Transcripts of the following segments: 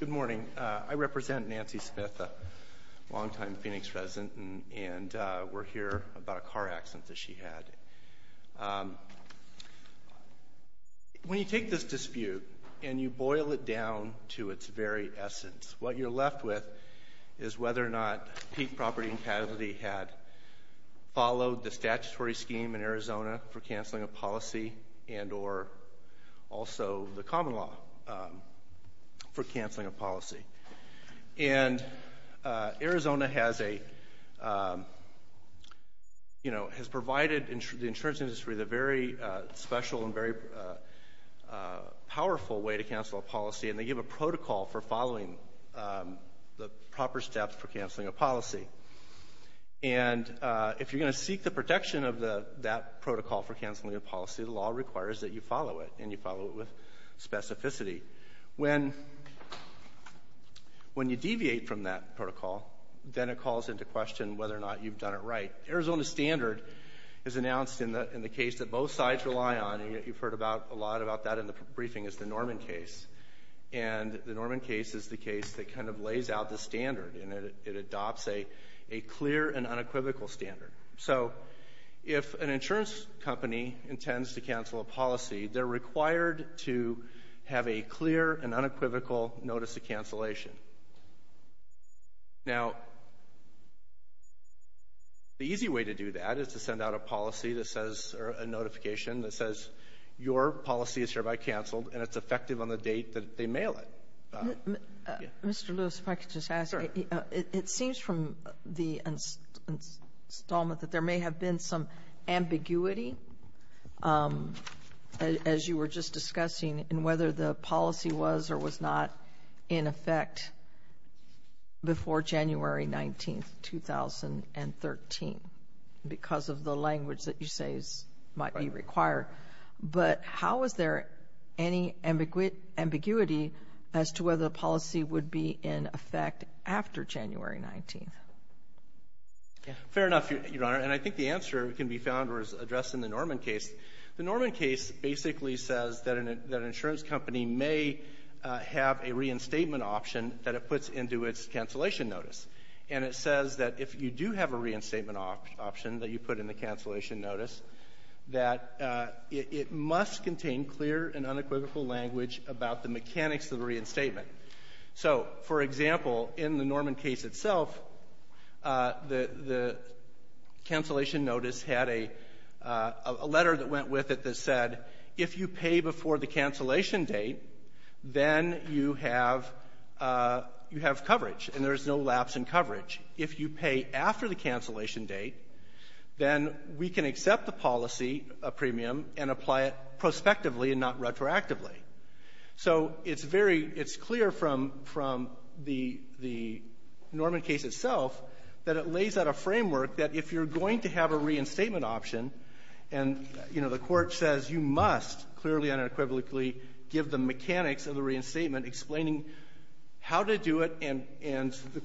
Good morning. I represent Nancy Smith, a long-time Phoenix resident, and we're here about a car accident that she had. When you take this dispute and you boil it down to its very essence, what you're left with is whether or not for canceling a policy. And Arizona has a, you know, has provided the insurance industry with a very special and very powerful way to cancel a policy, and they give a protocol for following the proper steps for canceling a policy. And if you're going to seek the protection of that protocol for canceling a policy, the law requires that you follow it, and you follow it with specificity. When you deviate from that protocol, then it calls into question whether or not you've done it right. Arizona's standard is announced in the case that both sides rely on, and you've heard a lot about that in the briefing, is the Norman case. And the Norman case is the case that kind of lays out the standard, and it adopts a clear and unequivocal standard. So if an insurance company intends to cancel a policy, they're required to have a clear and unequivocal notice of cancellation. Now, the easy way to do that is to send out a policy that says, or a notification that says your policy is hereby been some ambiguity, as you were just discussing, in whether the policy was or was not in effect before January 19, 2013, because of the language that you say might be required. But how is there any ambiguity as to whether the policy would be in effect after January 19? Fair enough, Your Honor, and I think the answer can be found or is addressed in the Norman case. The Norman case basically says that an insurance company may have a reinstatement option that it puts into its cancellation notice. And it says that if you do have a reinstatement option that you put in the cancellation notice, that it must contain clear and unequivocal language about the mechanics of the cancellation notice had a letter that went with it that said, if you pay before the cancellation date, then you have coverage, and there is no lapse in coverage. If you pay after the cancellation date, then we can accept the policy, a premium, and apply it prospectively and not retroactively. So it's clear from the Norman case itself that it lays out a framework that if you're going to have a reinstatement option, and the court says you must clearly and unequivocally give the mechanics of the reinstatement, explaining how to do it, and the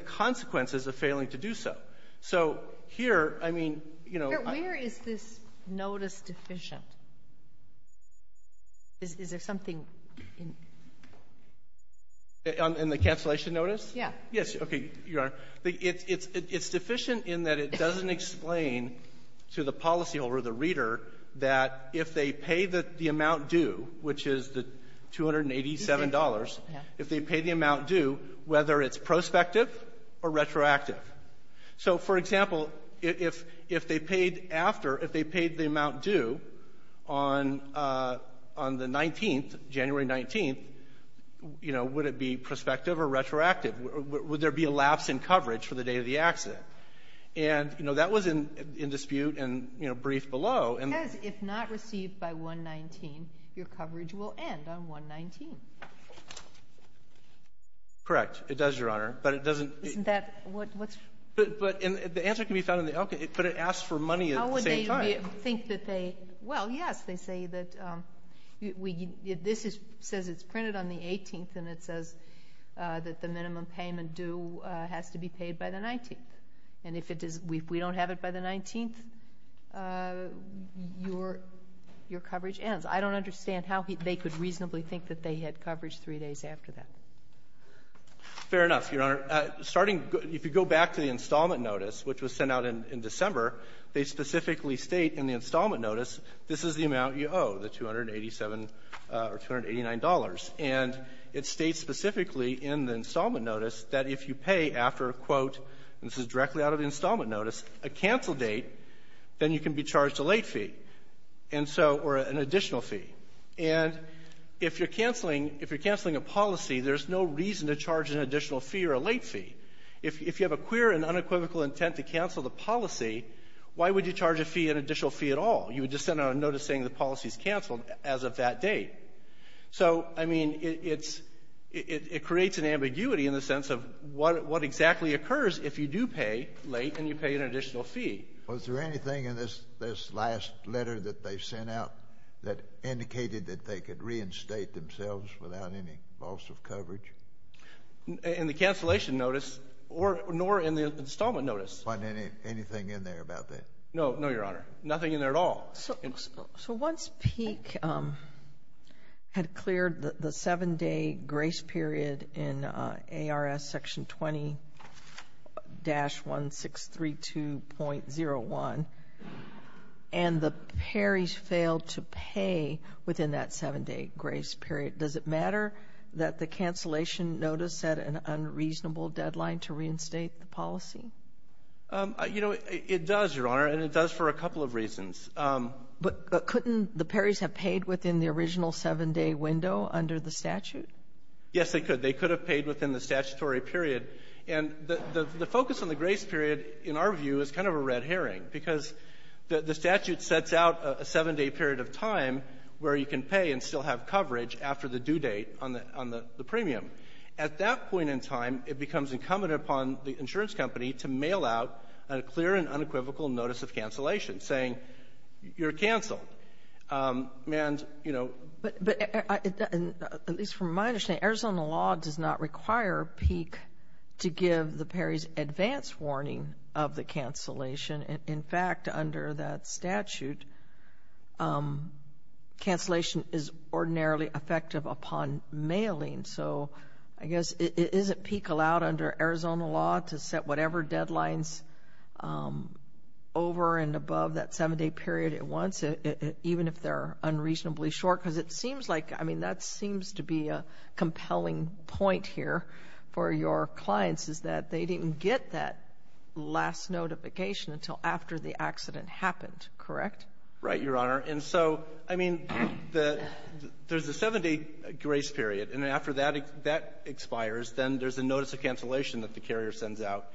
consequences of failing to do so. Where is this notice deficient? Is there something? In the cancellation notice? Yes. It's deficient in that it doesn't explain to the policyholder, the reader, that if they pay the amount due, which is the $287, if they pay the amount due, would it be prospective or retroactive? So, for example, if they paid the amount due on the 19th, January 19th, would it be prospective or retroactive? Would there be a lapse in coverage for the day of the accident? And that was in dispute and briefed below. Because if not received by 1-19, your coverage will end on 1-19. Correct. It does, Your Honor. But it doesn't... Isn't that... The answer can be found in the outcome, but it asks for money at the same time. Well, yes, they say that this says it's printed on the 18th, and it ends. I don't understand how they could reasonably think that they had coverage three days after that. Fair enough, Your Honor. Starting, if you go back to the installment notice, which was sent out in December, they specifically state in the installment notice, this is the amount you owe, the $287 or $289. And it states specifically in the installment notice that if you pay after a quote, and this is directly out of the installment notice, a fee can be charged, a late fee, or an additional fee. And if you're canceling a policy, there's no reason to charge an additional fee or a late fee. If you have a queer and unequivocal intent to cancel the policy, why would you charge a fee, an additional fee at all? You would just send out a notice saying the policy's canceled as of that date. So, I mean, it creates an ambiguity in the sense of what exactly occurs if you do pay late and you pay an additional fee. Was there anything in this last letter that they sent out that indicated that they could reinstate themselves without any loss of coverage? In the cancellation notice, nor in the installment notice. Wasn't anything in there about that? No, Your Honor. Nothing in there at all. So once PEEC had cleared the 7-day grace period in ARS Section 20-1632.01, and the paries failed to pay within that 7-day grace period, does it matter that the cancellation notice had an unreasonable deadline to reinstate the policy? You know, it does, Your Honor, and it does for a couple of reasons. But couldn't the paries have paid within the original 7-day window under the statute? Yes, they could. They could have paid within the statutory period. And the focus on the grace period, in our view, is kind of a red herring because the statute sets out a 7-day period of time where you can pay and still have coverage after the due date on the premium. At that point in time, it becomes incumbent upon the insurance company to mail out a clear and unequivocal notice of cancellation, saying you're canceled. But at least from my understanding, Arizona law does not require PEEC to give the paries advance warning of the mailing. So, I guess, isn't PEEC allowed under Arizona law to set whatever deadlines over and above that 7-day period at once, even if they're unreasonably short? Because it seems like, I mean, that seems to be a compelling point here for your clients, is that they didn't get that last notification until after the grace period. And after that expires, then there's a notice of cancellation that the carrier sends out.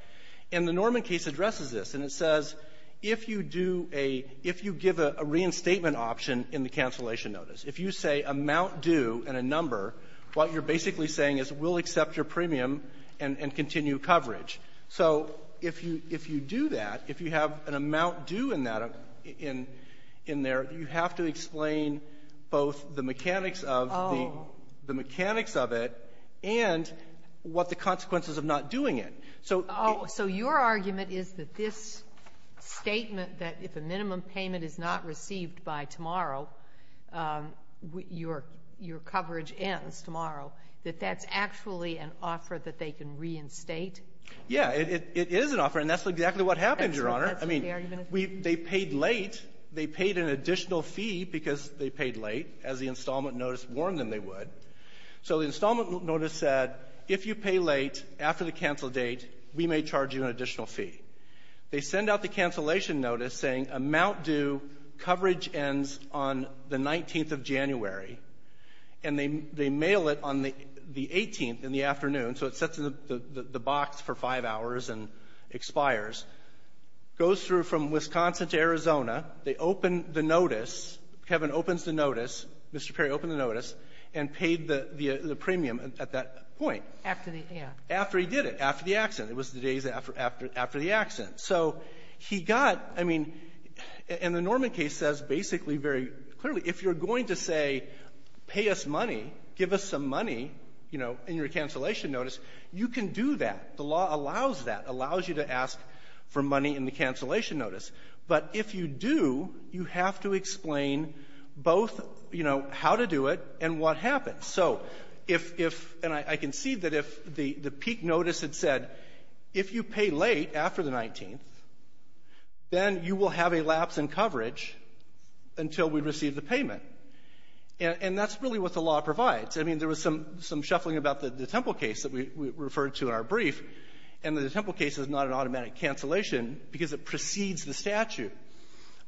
And the Norman case addresses this. And it says, if you do a — if you give a reinstatement option in the cancellation notice, if you say amount due and a number, what you're basically saying is we'll accept your premium and continue coverage. So if you do that, if you have an amount due in that — in there, you have to explain both the mechanics of the — the mechanics of it and what the consequences of not doing it. So — Oh, so your argument is that this statement that if a minimum payment is not received by tomorrow, your coverage ends tomorrow, that that's actually an offer that they can reinstate? Yeah, it is an offer. And that's exactly what happened, Your Honor. I mean, we — they paid late. They paid an additional fee because they paid late, as the installment notice warned them they would. So the installment notice said, if you pay late after the cancel date, we may charge you an additional fee. They send out the cancellation notice saying amount due, coverage ends on the 19th of January. And they mail it on the 18th in the afternoon. So it sits in the box for five hours and goes through from Wisconsin to Arizona. They open the notice. Kevin opens the notice. Mr. Perry opened the notice and paid the premium at that point. After the accident. After he did it, after the accident. It was the days after the accident. So he got — I mean, and the Norman case says basically very clearly, if you're going to say, pay us money, give us some money, you know, in your cancellation notice, you can do that. The law allows that, allows you to ask for money in the cancellation notice. But if you do, you have to explain both, you know, how to do it and what happened. So if — and I can see that if the peak notice had said, if you pay late after the 19th, then you will have a lapse in coverage until we receive the payment. And that's really what the law provides. I mean, there was some shuffling about the Temple case that we referred to in our brief, and the Temple case is not an automatic cancellation because it precedes the statute.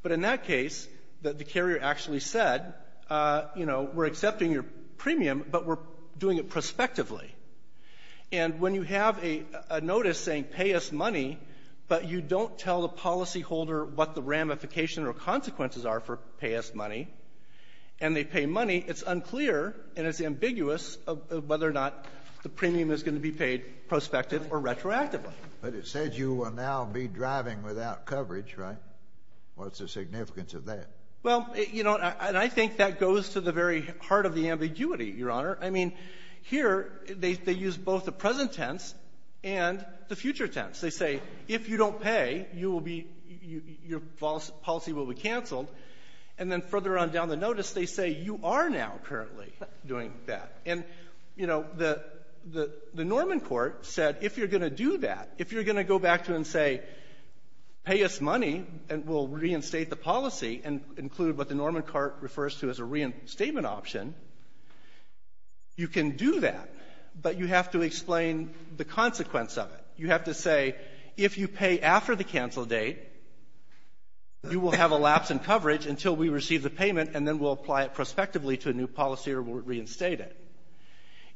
But in that case, the carrier actually said, you know, we're accepting your premium, but we're doing it prospectively. And when you have a notice saying, pay us money, but you don't tell the policyholder what the ramification or consequences are for pay us money, and they pay money, it's unclear and it's ambiguous whether or not the premium is going to be paid prospective or retroactively. But it said you will now be driving without coverage, right? What's the significance of that? Well, you know, and I think that goes to the very heart of the ambiguity, Your Honor. I mean, here, they use both the present tense and the future tense. They say, if you don't pay, you will be — your policy will be canceled. And then further on down the notice, they say you are now doing that. And, you know, the Norman court said, if you're going to do that, if you're going to go back to and say, pay us money and we'll reinstate the policy and include what the Norman court refers to as a reinstatement option, you can do that. But you have to explain the consequence of it. You have to say, if you pay after the cancel date, you will have a lapse in coverage until we receive the payment, and then we'll apply it effectively to a new policy or we'll reinstate it.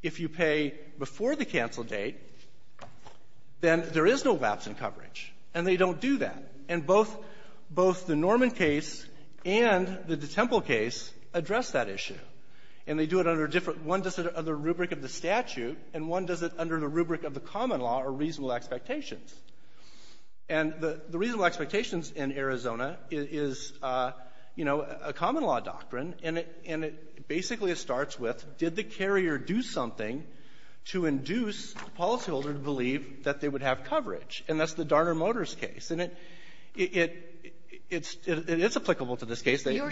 If you pay before the cancel date, then there is no lapse in coverage. And they don't do that. And both the Norman case and the DeTemple case address that issue. And they do it under different — one does it under the rubric of the statute, and one does it under the rubric of the common law or reasonable expectations. And the reasonable expectations in Arizona is, you know, a common law doctrine, and it basically starts with, did the carrier do something to induce the policyholder to believe that they would have coverage? And that's the Darner Motors case. And it's applicable to this case. Your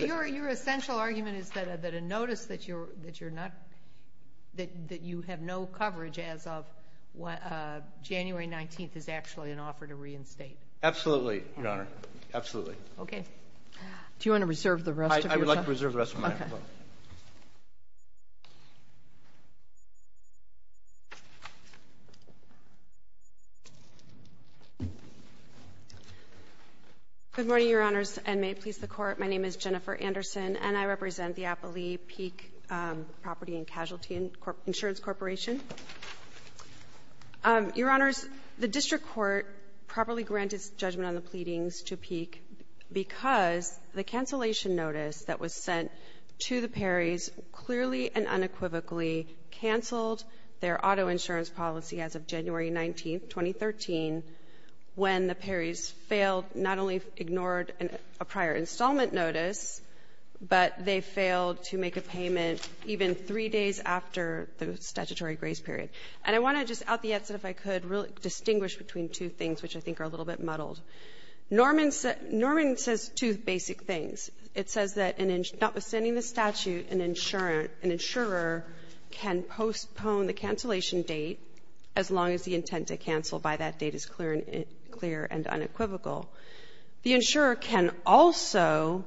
essential argument is that a notice that you're not — that you have no coverage as of January 19th is actually an offer to reinstate. Absolutely, Your Honor. Absolutely. Okay. Do you want to reserve the rest of your time? I would like to reserve the rest of my time. Okay. Good morning, Your Honors, and may it please the Court. My name is Jennifer Anderson, and I represent the Applee Peek Property and Casualty Insurance Corporation. Your Honors, the district court properly granted its judgment on the pleadings to Peek because the cancellation notice that was sent to the Perrys clearly and unequivocally canceled their auto insurance policy as of January 19th, 2013, when the Perrys failed — not only ignored a prior installment notice, but they failed to make a payment even three days after the statutory grace period. And I want to just at the outset, if I could, really distinguish between two things, which I think are a little bit muddled. Norman says two basic things. It says that notwithstanding the statute, an insurer can postpone the cancellation date as long as the intent to cancel by that date is clear and unequivocal. The insurer can also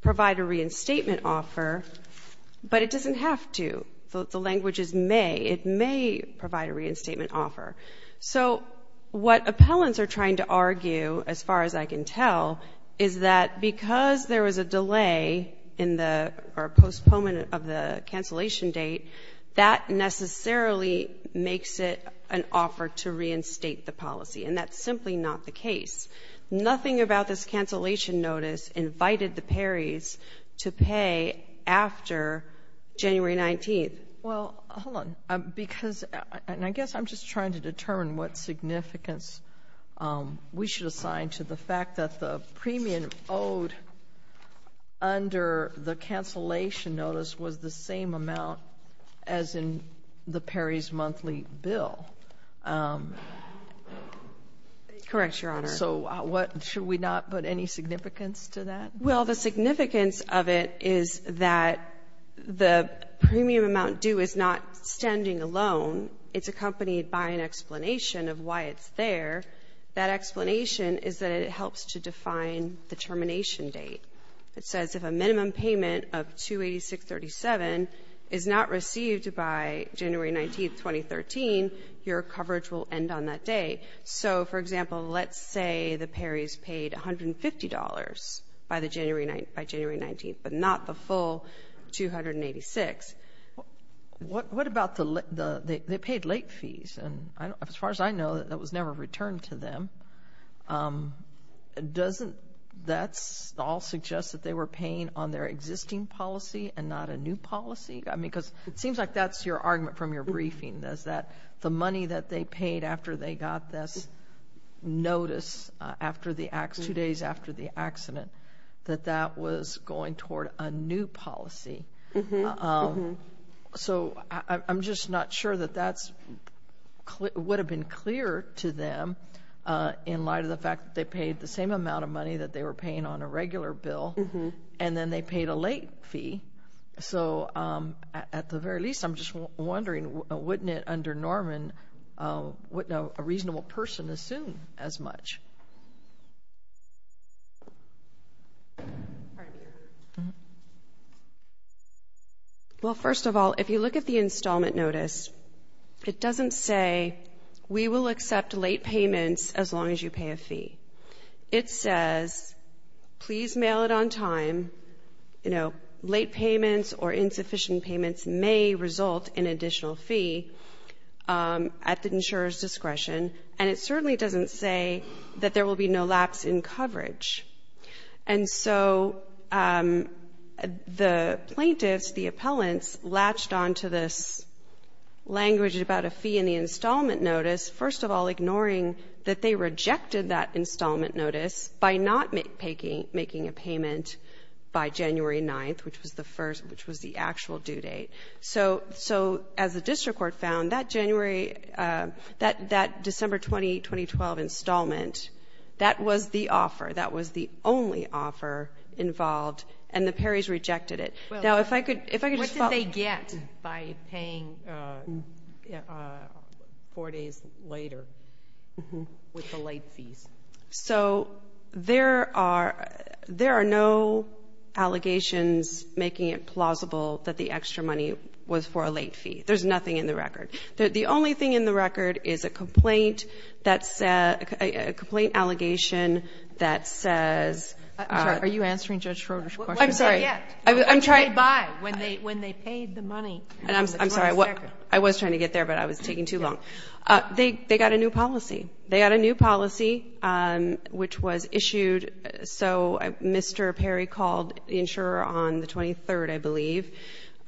provide a reinstatement offer, but it doesn't have to. The language is may. It may provide a reinstatement offer. So what appellants are trying to argue, as far as I can tell, is that because there was a delay or postponement of the cancellation date, that necessarily makes it an offer to reinstate the policy, and that's simply not the case. Nothing about this cancellation notice invited the Perrys to pay after January 19th. Well, hold on. Because — and I guess I'm just trying to determine what significance we should assign to the fact that the premium owed under the cancellation notice was the same amount as in the Perrys monthly bill. Correct, Your Honor. So what — should we not put any significance to that? Well, the significance of it is that the premium amount due is not standing alone. It's accompanied by an explanation of why it's there. That explanation is that it helps to define the termination date. It says if a minimum payment of $286.37 is not received by January 19th, 2013, your coverage will end on that day. So, for example, let's say the Perrys paid $150 by January 19th, but not the full $286. What about the — they paid late fees, and as far as I know, that was never returned to them. Doesn't that all suggest that they were paying on their existing policy and not a new policy? I mean, because it seems like that's your argument from your briefing, is that the money that they paid after they got this notice after the — two days after the accident, that that was going toward a new policy. So I'm just not sure that that would have been clear to them in light of the fact that they paid the same amount of money that they were paying on a regular bill, and then they paid a late fee. So, at the very least, I'm just wondering, wouldn't it, under Norman, wouldn't a reasonable person assume as much? Well, first of all, if you look at the installment notice, it doesn't say we will accept late payments as long as you pay a fee. It says please mail it on time. You know, late payments or insufficient payments may result in additional fee at the insurer's discretion, and it certainly doesn't say that there will be no lapse in coverage. And so the plaintiffs, the appellants, latched onto this language about a fee in the installment notice, first of all ignoring that they rejected that installment notice by not making a payment by January 9th, which was the actual due date. So, as the district court found, that January, that December 20, 2012 installment, that was the offer. That was the only offer involved, and the Perrys rejected it. Now, if I could just follow up. What did they get by paying four days later with the late fees? So, there are no allegations making it plausible that the extra money was for a late fee. There's nothing in the record. The only thing in the record is a complaint that says, a complaint allegation that says. I'm sorry. Are you answering Judge Schroeder's question? I'm sorry. What did they get? What did they buy when they paid the money? I'm sorry. I was trying to get there, but I was taking too long. They got a new policy. They got a new policy, which was issued. So, Mr. Perry called the insurer on the 23rd, I believe.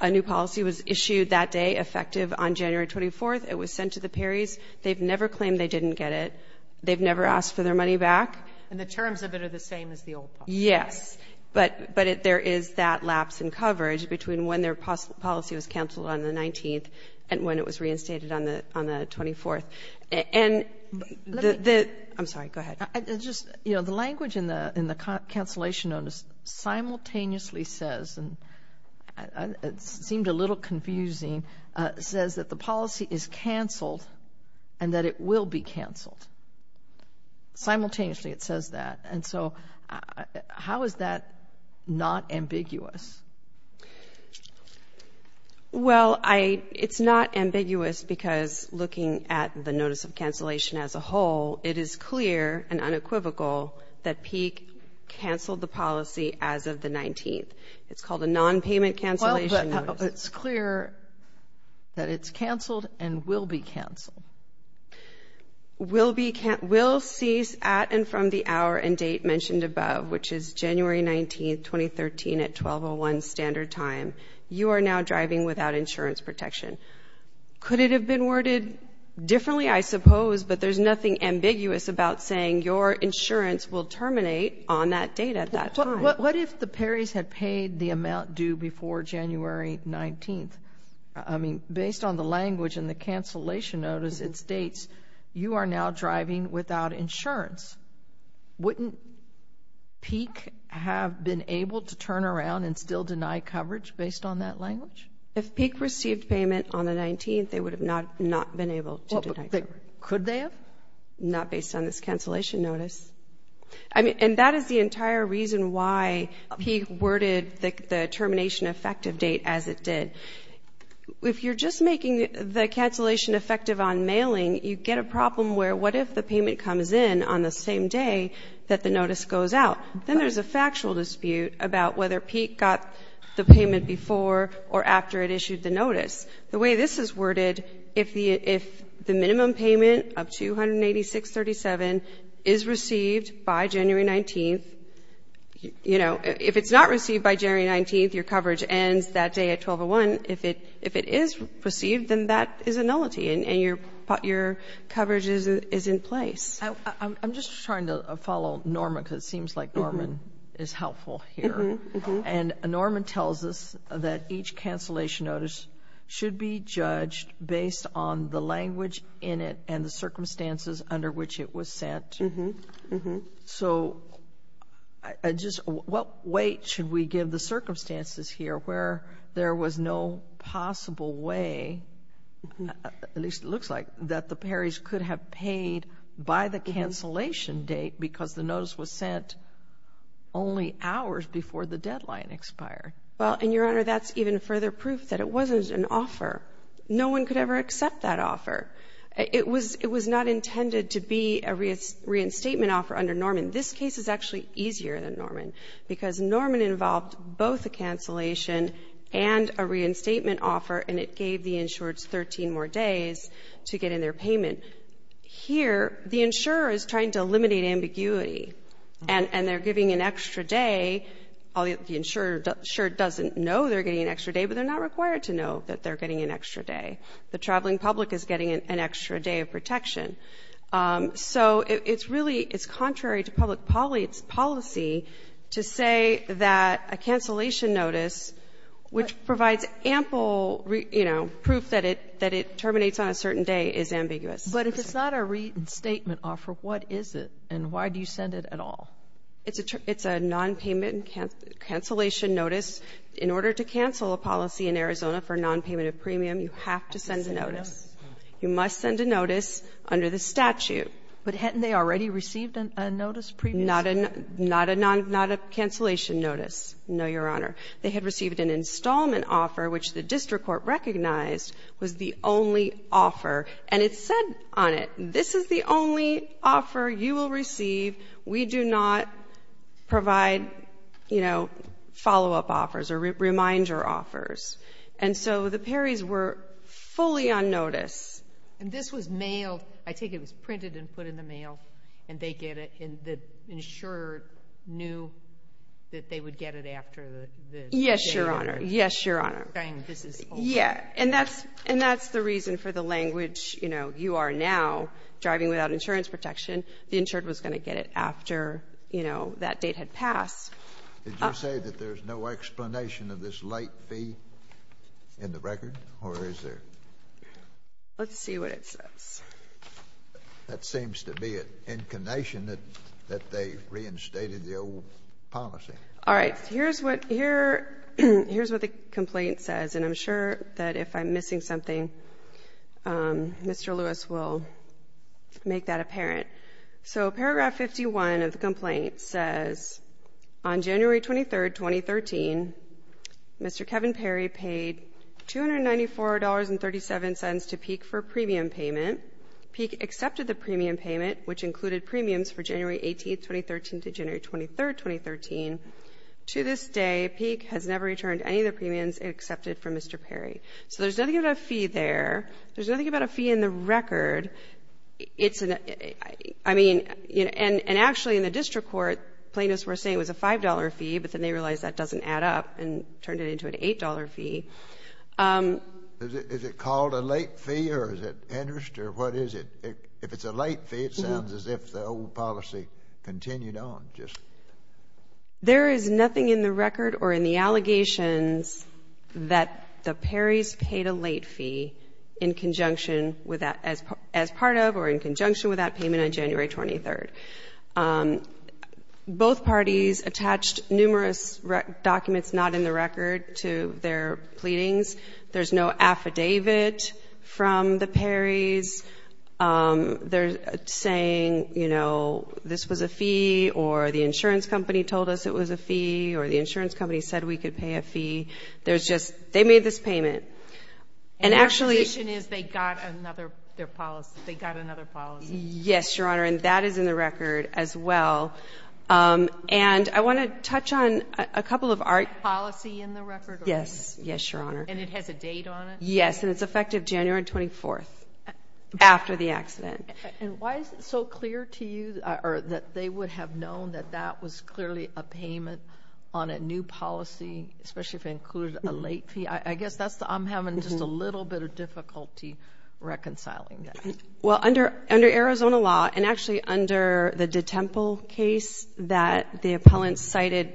A new policy was issued that day, effective on January 24th. It was sent to the Perrys. They've never claimed they didn't get it. They've never asked for their money back. And the terms of it are the same as the old policy? Yes. But there is that lapse in coverage between when their policy was canceled on the 19th and when it was reinstated on the 24th. I'm sorry. Go ahead. The language in the cancellation notice simultaneously says, and it seemed a little confusing, says that the policy is canceled and that it will be canceled. Simultaneously, it says that. And so, how is that not ambiguous? Well, it's not ambiguous because looking at the notice of cancellation as a whole, it is clear and unequivocal that Peek canceled the policy as of the 19th. It's called a nonpayment cancellation notice. Well, but it's clear that it's canceled and will be canceled. Will cease at and from the hour and date mentioned above, which is January 19th, 2013, at 12.01 standard time. You are now driving without insurance protection. Could it have been worded differently? I suppose. But there's nothing ambiguous about saying your insurance will terminate on that date at that time. What if the Perrys had paid the amount due before January 19th? Based on the language in the cancellation notice, it states you are now driving without insurance. Wouldn't Peek have been able to turn around and still deny coverage based on that language? If Peek received payment on the 19th, they would have not been able to deny coverage. Could they have? Not based on this cancellation notice. And that is the entire reason why Peek worded the termination effective date as it did. If you're just making the cancellation effective on mailing, you get a problem where what if the payment comes in on the same day that the notice goes out? Then there's a factual dispute about whether Peek got the payment before or after it issued the notice. The way this is worded, if the minimum payment of 286.37 is received by January 19th, you know, if it's not received by January 19th, your coverage ends that day at 12.01. If it is received, then that is a nullity and your coverage is in place. I'm just trying to follow Norma because it seems like Norma is helpful here. And Norma tells us that each cancellation notice should be judged based on the language in it and the circumstances under which it was sent. So just what weight should we give the circumstances here where there was no possible way, at least it looks like, that the Perrys could have paid by the cancellation date because the notice was sent only hours before the deadline expired? Well, and, Your Honor, that's even further proof that it wasn't an offer. No one could ever accept that offer. It was not intended to be a reinstatement offer under Norman. This case is actually easier than Norman because Norman involved both a cancellation and a reinstatement offer, and it gave the insureds 13 more days to get in their payment. Here, the insurer is trying to eliminate ambiguity, and they're giving an extra day. The insurer sure doesn't know they're getting an extra day, but they're not required to know that they're getting an extra day. The traveling public is getting an extra day of protection. So it's really contrary to public policy to say that a cancellation notice, which provides ample proof that it terminates on a certain day, is ambiguous. But if it's not a reinstatement offer, what is it, and why do you send it at all? It's a nonpayment cancellation notice. In order to cancel a policy in Arizona for nonpayment of premium, you have to send a notice. You must send a notice under the statute. But hadn't they already received a notice previously? Not a cancellation notice, no, Your Honor. They had received an installment offer, which the district court recognized was the only offer. And it said on it, this is the only offer you will receive. We do not provide, you know, follow-up offers or reminder offers. And so the Perrys were fully on notice. And this was mailed. I think it was printed and put in the mail, and they get it. And the insurer knew that they would get it after the date? Yes, Your Honor. Yes, Your Honor. And that's the reason for the language, you know, you are now driving without insurance protection. The insured was going to get it after, you know, that date had passed. Did you say that there's no explanation of this late fee in the record, or is there? Let's see what it says. That seems to be an inclination that they reinstated the old policy. All right. Here's what the complaint says, and I'm sure that if I'm missing something, Mr. Lewis will make that apparent. So paragraph 51 of the complaint says, On January 23, 2013, Mr. Kevin Perry paid $294.37 to Peek for a premium payment. Peek accepted the premium payment, which included premiums for January 18, 2013 to January 23, 2013. To this day, Peek has never returned any of the premiums he accepted from Mr. Perry. So there's nothing about a fee there. There's nothing about a fee in the record. I mean, and actually in the district court, plaintiffs were saying it was a $5 fee, but then they realized that doesn't add up and turned it into an $8 fee. Is it called a late fee, or is it interest, or what is it? If it's a late fee, it sounds as if the old policy continued on. There is nothing in the record or in the allegations that the Perrys paid a late fee in conjunction with that as part of or in conjunction with that payment on January 23. Both parties attached numerous documents not in the record to their pleadings. There's no affidavit from the Perrys. They're saying, you know, this was a fee, or the insurance company told us it was a fee, or the insurance company said we could pay a fee. They made this payment. And the accusation is they got another policy. They got another policy. Yes, Your Honor, and that is in the record as well. And I want to touch on a couple of our policies in the record. Yes. Yes, Your Honor. And it has a date on it? Yes, and it's effective January 24 after the accident. And why is it so clear to you that they would have known that that was clearly a payment on a new policy, especially if it included a late fee? I guess I'm having just a little bit of difficulty reconciling that. Well, under Arizona law and actually under the DeTemple case that the appellant cited,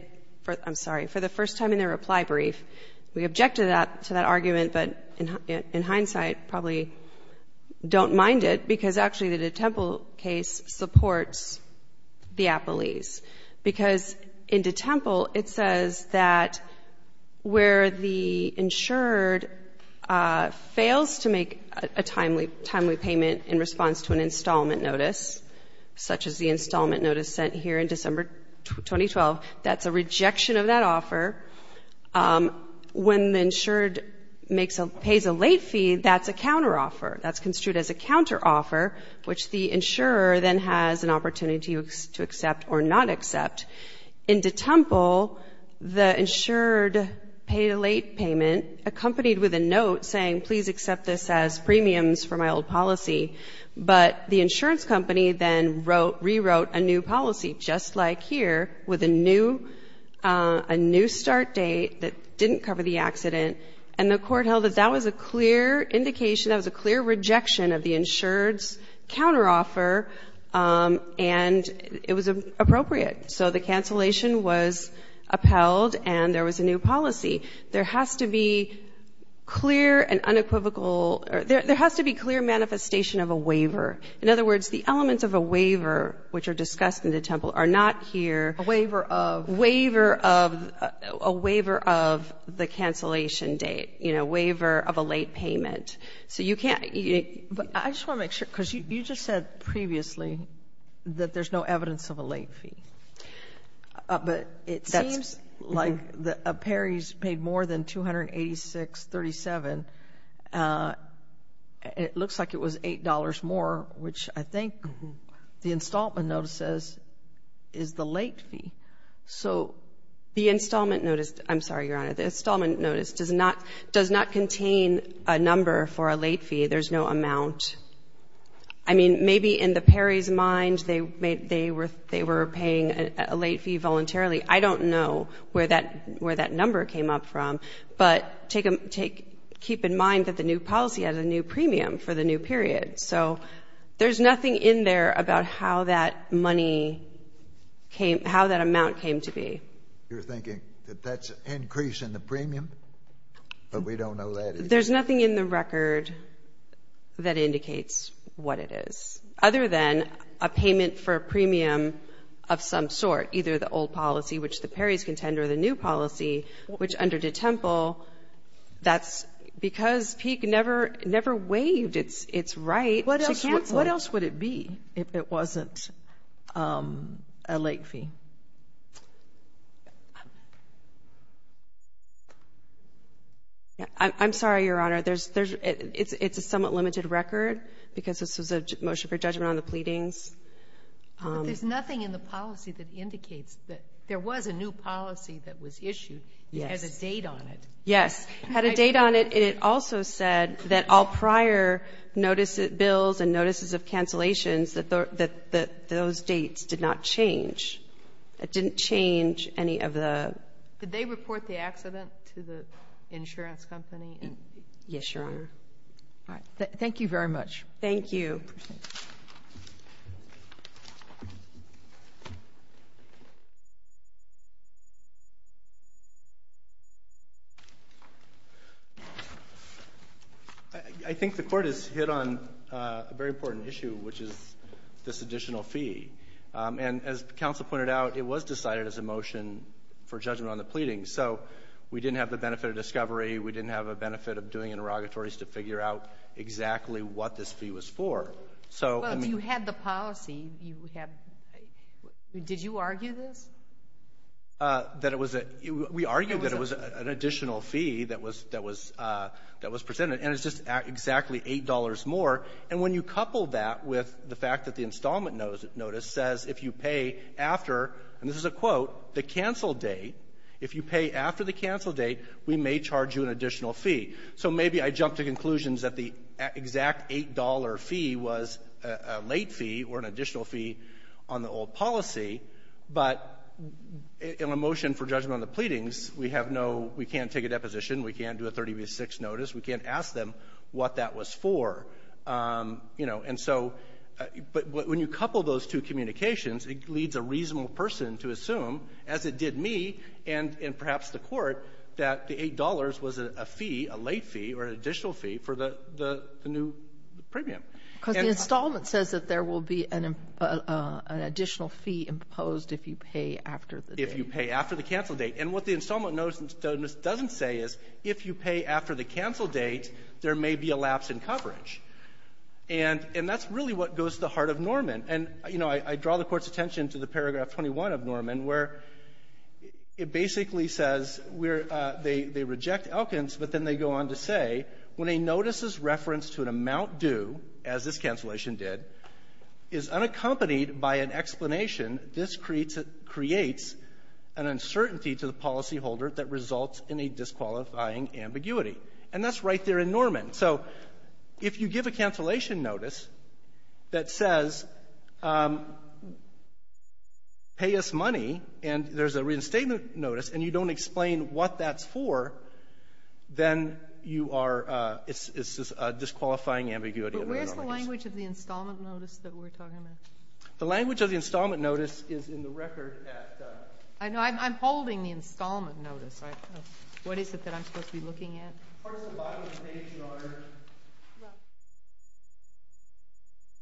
I'm sorry, for the first time in their reply brief, we objected to that argument, but in hindsight probably don't mind it because actually the DeTemple case supports the appellees. Because in DeTemple it says that where the insured fails to make a timely payment in response to an installment notice, such as the installment notice sent here in December 2012, that's a rejection of that offer. When the insured pays a late fee, that's a counteroffer. That's construed as a counteroffer, which the insurer then has an opportunity to accept or not accept. In DeTemple, the insured paid a late payment accompanied with a note saying, please accept this as premiums for my old policy. But the insurance company then rewrote a new policy, just like here, with a new start date that didn't cover the accident. And the court held that that was a clear indication, that was a clear rejection of the insured's counteroffer and it was appropriate. So the cancellation was upheld and there was a new policy. There has to be clear and unequivocal or there has to be clear manifestation of a waiver. In other words, the elements of a waiver which are discussed in DeTemple are not here. A waiver of? Waiver of the cancellation date, you know, waiver of a late payment. So you can't. But I just want to make sure, because you just said previously that there's no evidence of a late fee. But it seems like Perry's paid more than $286.37. It looks like it was $8 more, which I think the installment notice says is the late fee. So the installment notice, I'm sorry, Your Honor, the installment notice does not contain a number for a late fee. There's no amount. I mean, maybe in the Perry's mind they were paying a late fee voluntarily. I don't know where that number came up from. But keep in mind that the new policy has a new premium for the new period. So there's nothing in there about how that money came, how that amount came to be. You're thinking that that's an increase in the premium, but we don't know that either. There's nothing in the record that indicates what it is, other than a payment for a premium of some sort, either the old policy, which the Perry's contend, or the new policy, which under DeTemple, that's because Peek never waived its right to cancel. What else would it be if it wasn't a late fee? I'm sorry, Your Honor. It's a somewhat limited record because this was a motion for judgment on the pleadings. There's nothing in the policy that indicates that there was a new policy that was issued. It has a date on it. Yes. It had a date on it, and it also said that all prior bills and notices of cancellations, that those dates did not change. It didn't change any of the ‑‑ Did they report the accident to the insurance company? Yes, Your Honor. All right. Thank you very much. Thank you. I think the court has hit on a very important issue, which is this additional fee. And as counsel pointed out, it was decided as a motion for judgment on the pleadings, so we didn't have the benefit of discovery. We didn't have a benefit of doing interrogatories to figure out exactly what this fee was for. Well, you had the policy. Did you argue this? We argued that it was an additional fee that was presented, and it's just exactly $8 more. And when you couple that with the fact that the installment notice says if you pay after, and this is a quote, the cancel date, if you pay after the cancel date, we may charge you an additional fee. So maybe I jump to conclusions that the exact $8 fee was a late fee or an additional fee on the old policy, but in a motion for judgment on the pleadings, we have no ‑‑ we can't take a deposition. We can't do a 30‑6 notice. We can't ask them what that was for. You know, and so ‑‑ but when you couple those two communications, it leads a reasonable person to assume, as it did me and perhaps the Court, that the $8 was a fee, a late fee or an additional fee for the new premium. Because the installment says that there will be an additional fee imposed if you pay after the date. If you pay after the cancel date. And what the installment notice doesn't say is if you pay after the cancel date, there may be a lapse in coverage. And that's really what goes to the heart of Norman. And, you know, I draw the Court's attention to the paragraph 21 of Norman where it basically says they reject Elkins, but then they go on to say when a notice is referenced to an amount due, as this cancellation did, is unaccompanied by an explanation, this creates an uncertainty to the policyholder that results in a disqualifying ambiguity. And that's right there in Norman. So if you give a cancellation notice that says pay us money and there's a reinstatement notice and you don't explain what that's for, then you are ‑‑ it's a disqualifying ambiguity. But where's the language of the installment notice that we're talking about? The language of the installment notice is in the record at ‑‑ I know. I'm holding the installment notice. What is it that I'm supposed to be looking at? Part of the bottom of the page, Your Honor,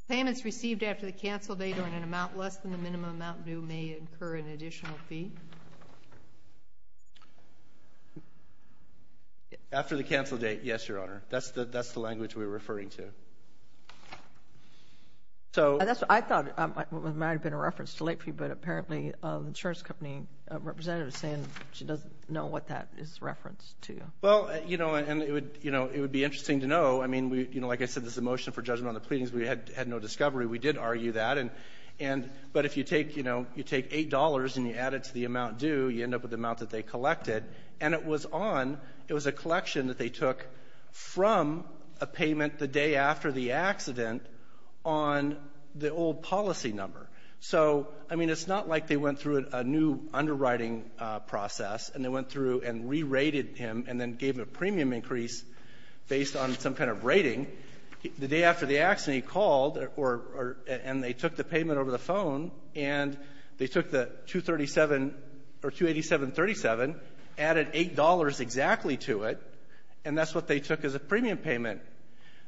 payments received after the cancel date on an amount less than the minimum amount due may incur an additional fee. After the cancel date, yes, Your Honor. That's the language we're referring to. I thought it might have been a reference to late fee, but apparently the insurance company representative is saying she doesn't know what that is referenced to. Well, you know, and it would be interesting to know. I mean, like I said, there's a motion for judgment on the pleadings. We had no discovery. We did argue that. But if you take $8 and you add it to the amount due, you end up with the amount that they collected. And it was a collection that they took from a payment the day after the accident on the old policy number. So, I mean, it's not like they went through a new underwriting process and they went through and re-rated him and then gave him a premium increase based on some kind of rating. The day after the accident he called and they took the payment over the phone and they took the $287.37, added $8 exactly to it, and that's what they took as a premium payment.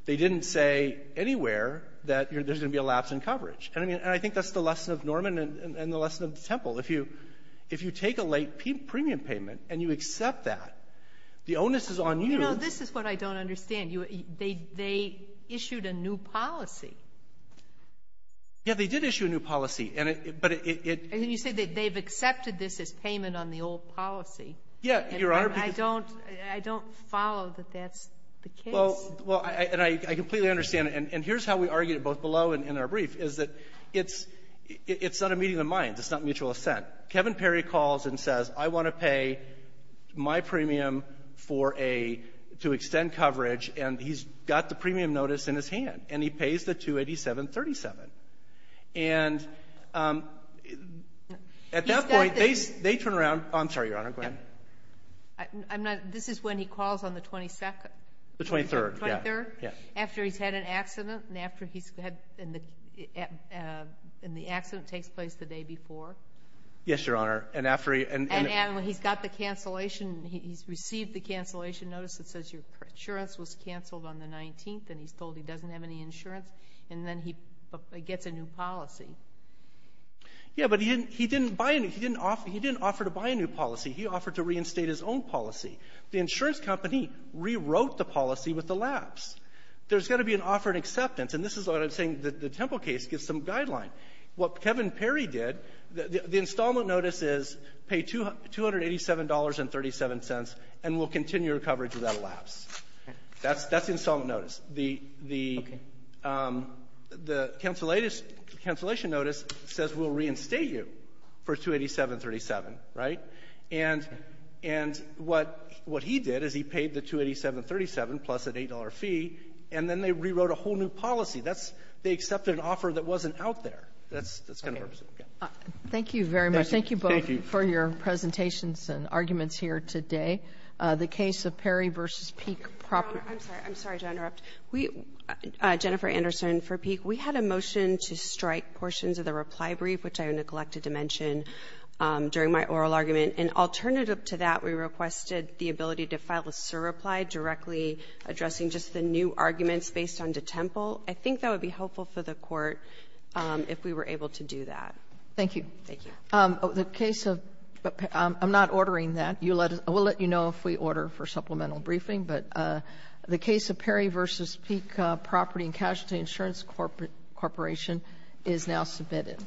They didn't say anywhere that there's going to be a lapse in coverage. If you take a late premium payment and you accept that, the onus is on you. You know, this is what I don't understand. They issued a new policy. Yeah, they did issue a new policy. And you said that they've accepted this as payment on the old policy. Yeah, Your Honor. I don't follow that that's the case. Well, and I completely understand. And here's how we argued it, both below and in our brief, is that it's not a meeting of the minds. It's not mutual assent. Kevin Perry calls and says, I want to pay my premium to extend coverage, and he's got the premium notice in his hand, and he pays the $287.37. And at that point, they turn around. I'm sorry, Your Honor. Go ahead. This is when he calls on the 22nd. The 23rd, yeah. The 23rd, after he's had an accident and the accident takes place the day before. Yes, Your Honor. And he's got the cancellation, he's received the cancellation notice that says your insurance was canceled on the 19th, and he's told he doesn't have any insurance, and then he gets a new policy. Yeah, but he didn't offer to buy a new policy. He offered to reinstate his own policy. The insurance company rewrote the policy with the lapse. There's got to be an offer and acceptance, and this is what I'm saying. The Temple case gives some guideline. What Kevin Perry did, the installment notice is pay $287.37 and we'll continue your coverage without a lapse. That's the installment notice. The cancellation notice says we'll reinstate you for $287.37, right? And what he did is he paid the $287.37 plus an $8 fee, and then they rewrote a whole new policy. They accepted an offer that wasn't out there. That's kind of what I'm saying. Thank you very much. Thank you both for your presentations and arguments here today. The case of Perry v. Peek. I'm sorry to interrupt. Jennifer Anderson for Peek. We had a motion to strike portions of the reply brief, which I neglected to mention during my oral argument, and alternative to that we requested the ability to file a SIR reply directly addressing just the new arguments based on the Temple. I think that would be helpful for the Court if we were able to do that. Thank you. Thank you. I'm not ordering that. We'll let you know if we order for supplemental briefing, but the case of Perry v. Peek, Property and Casualty Insurance Corporation is now submitted.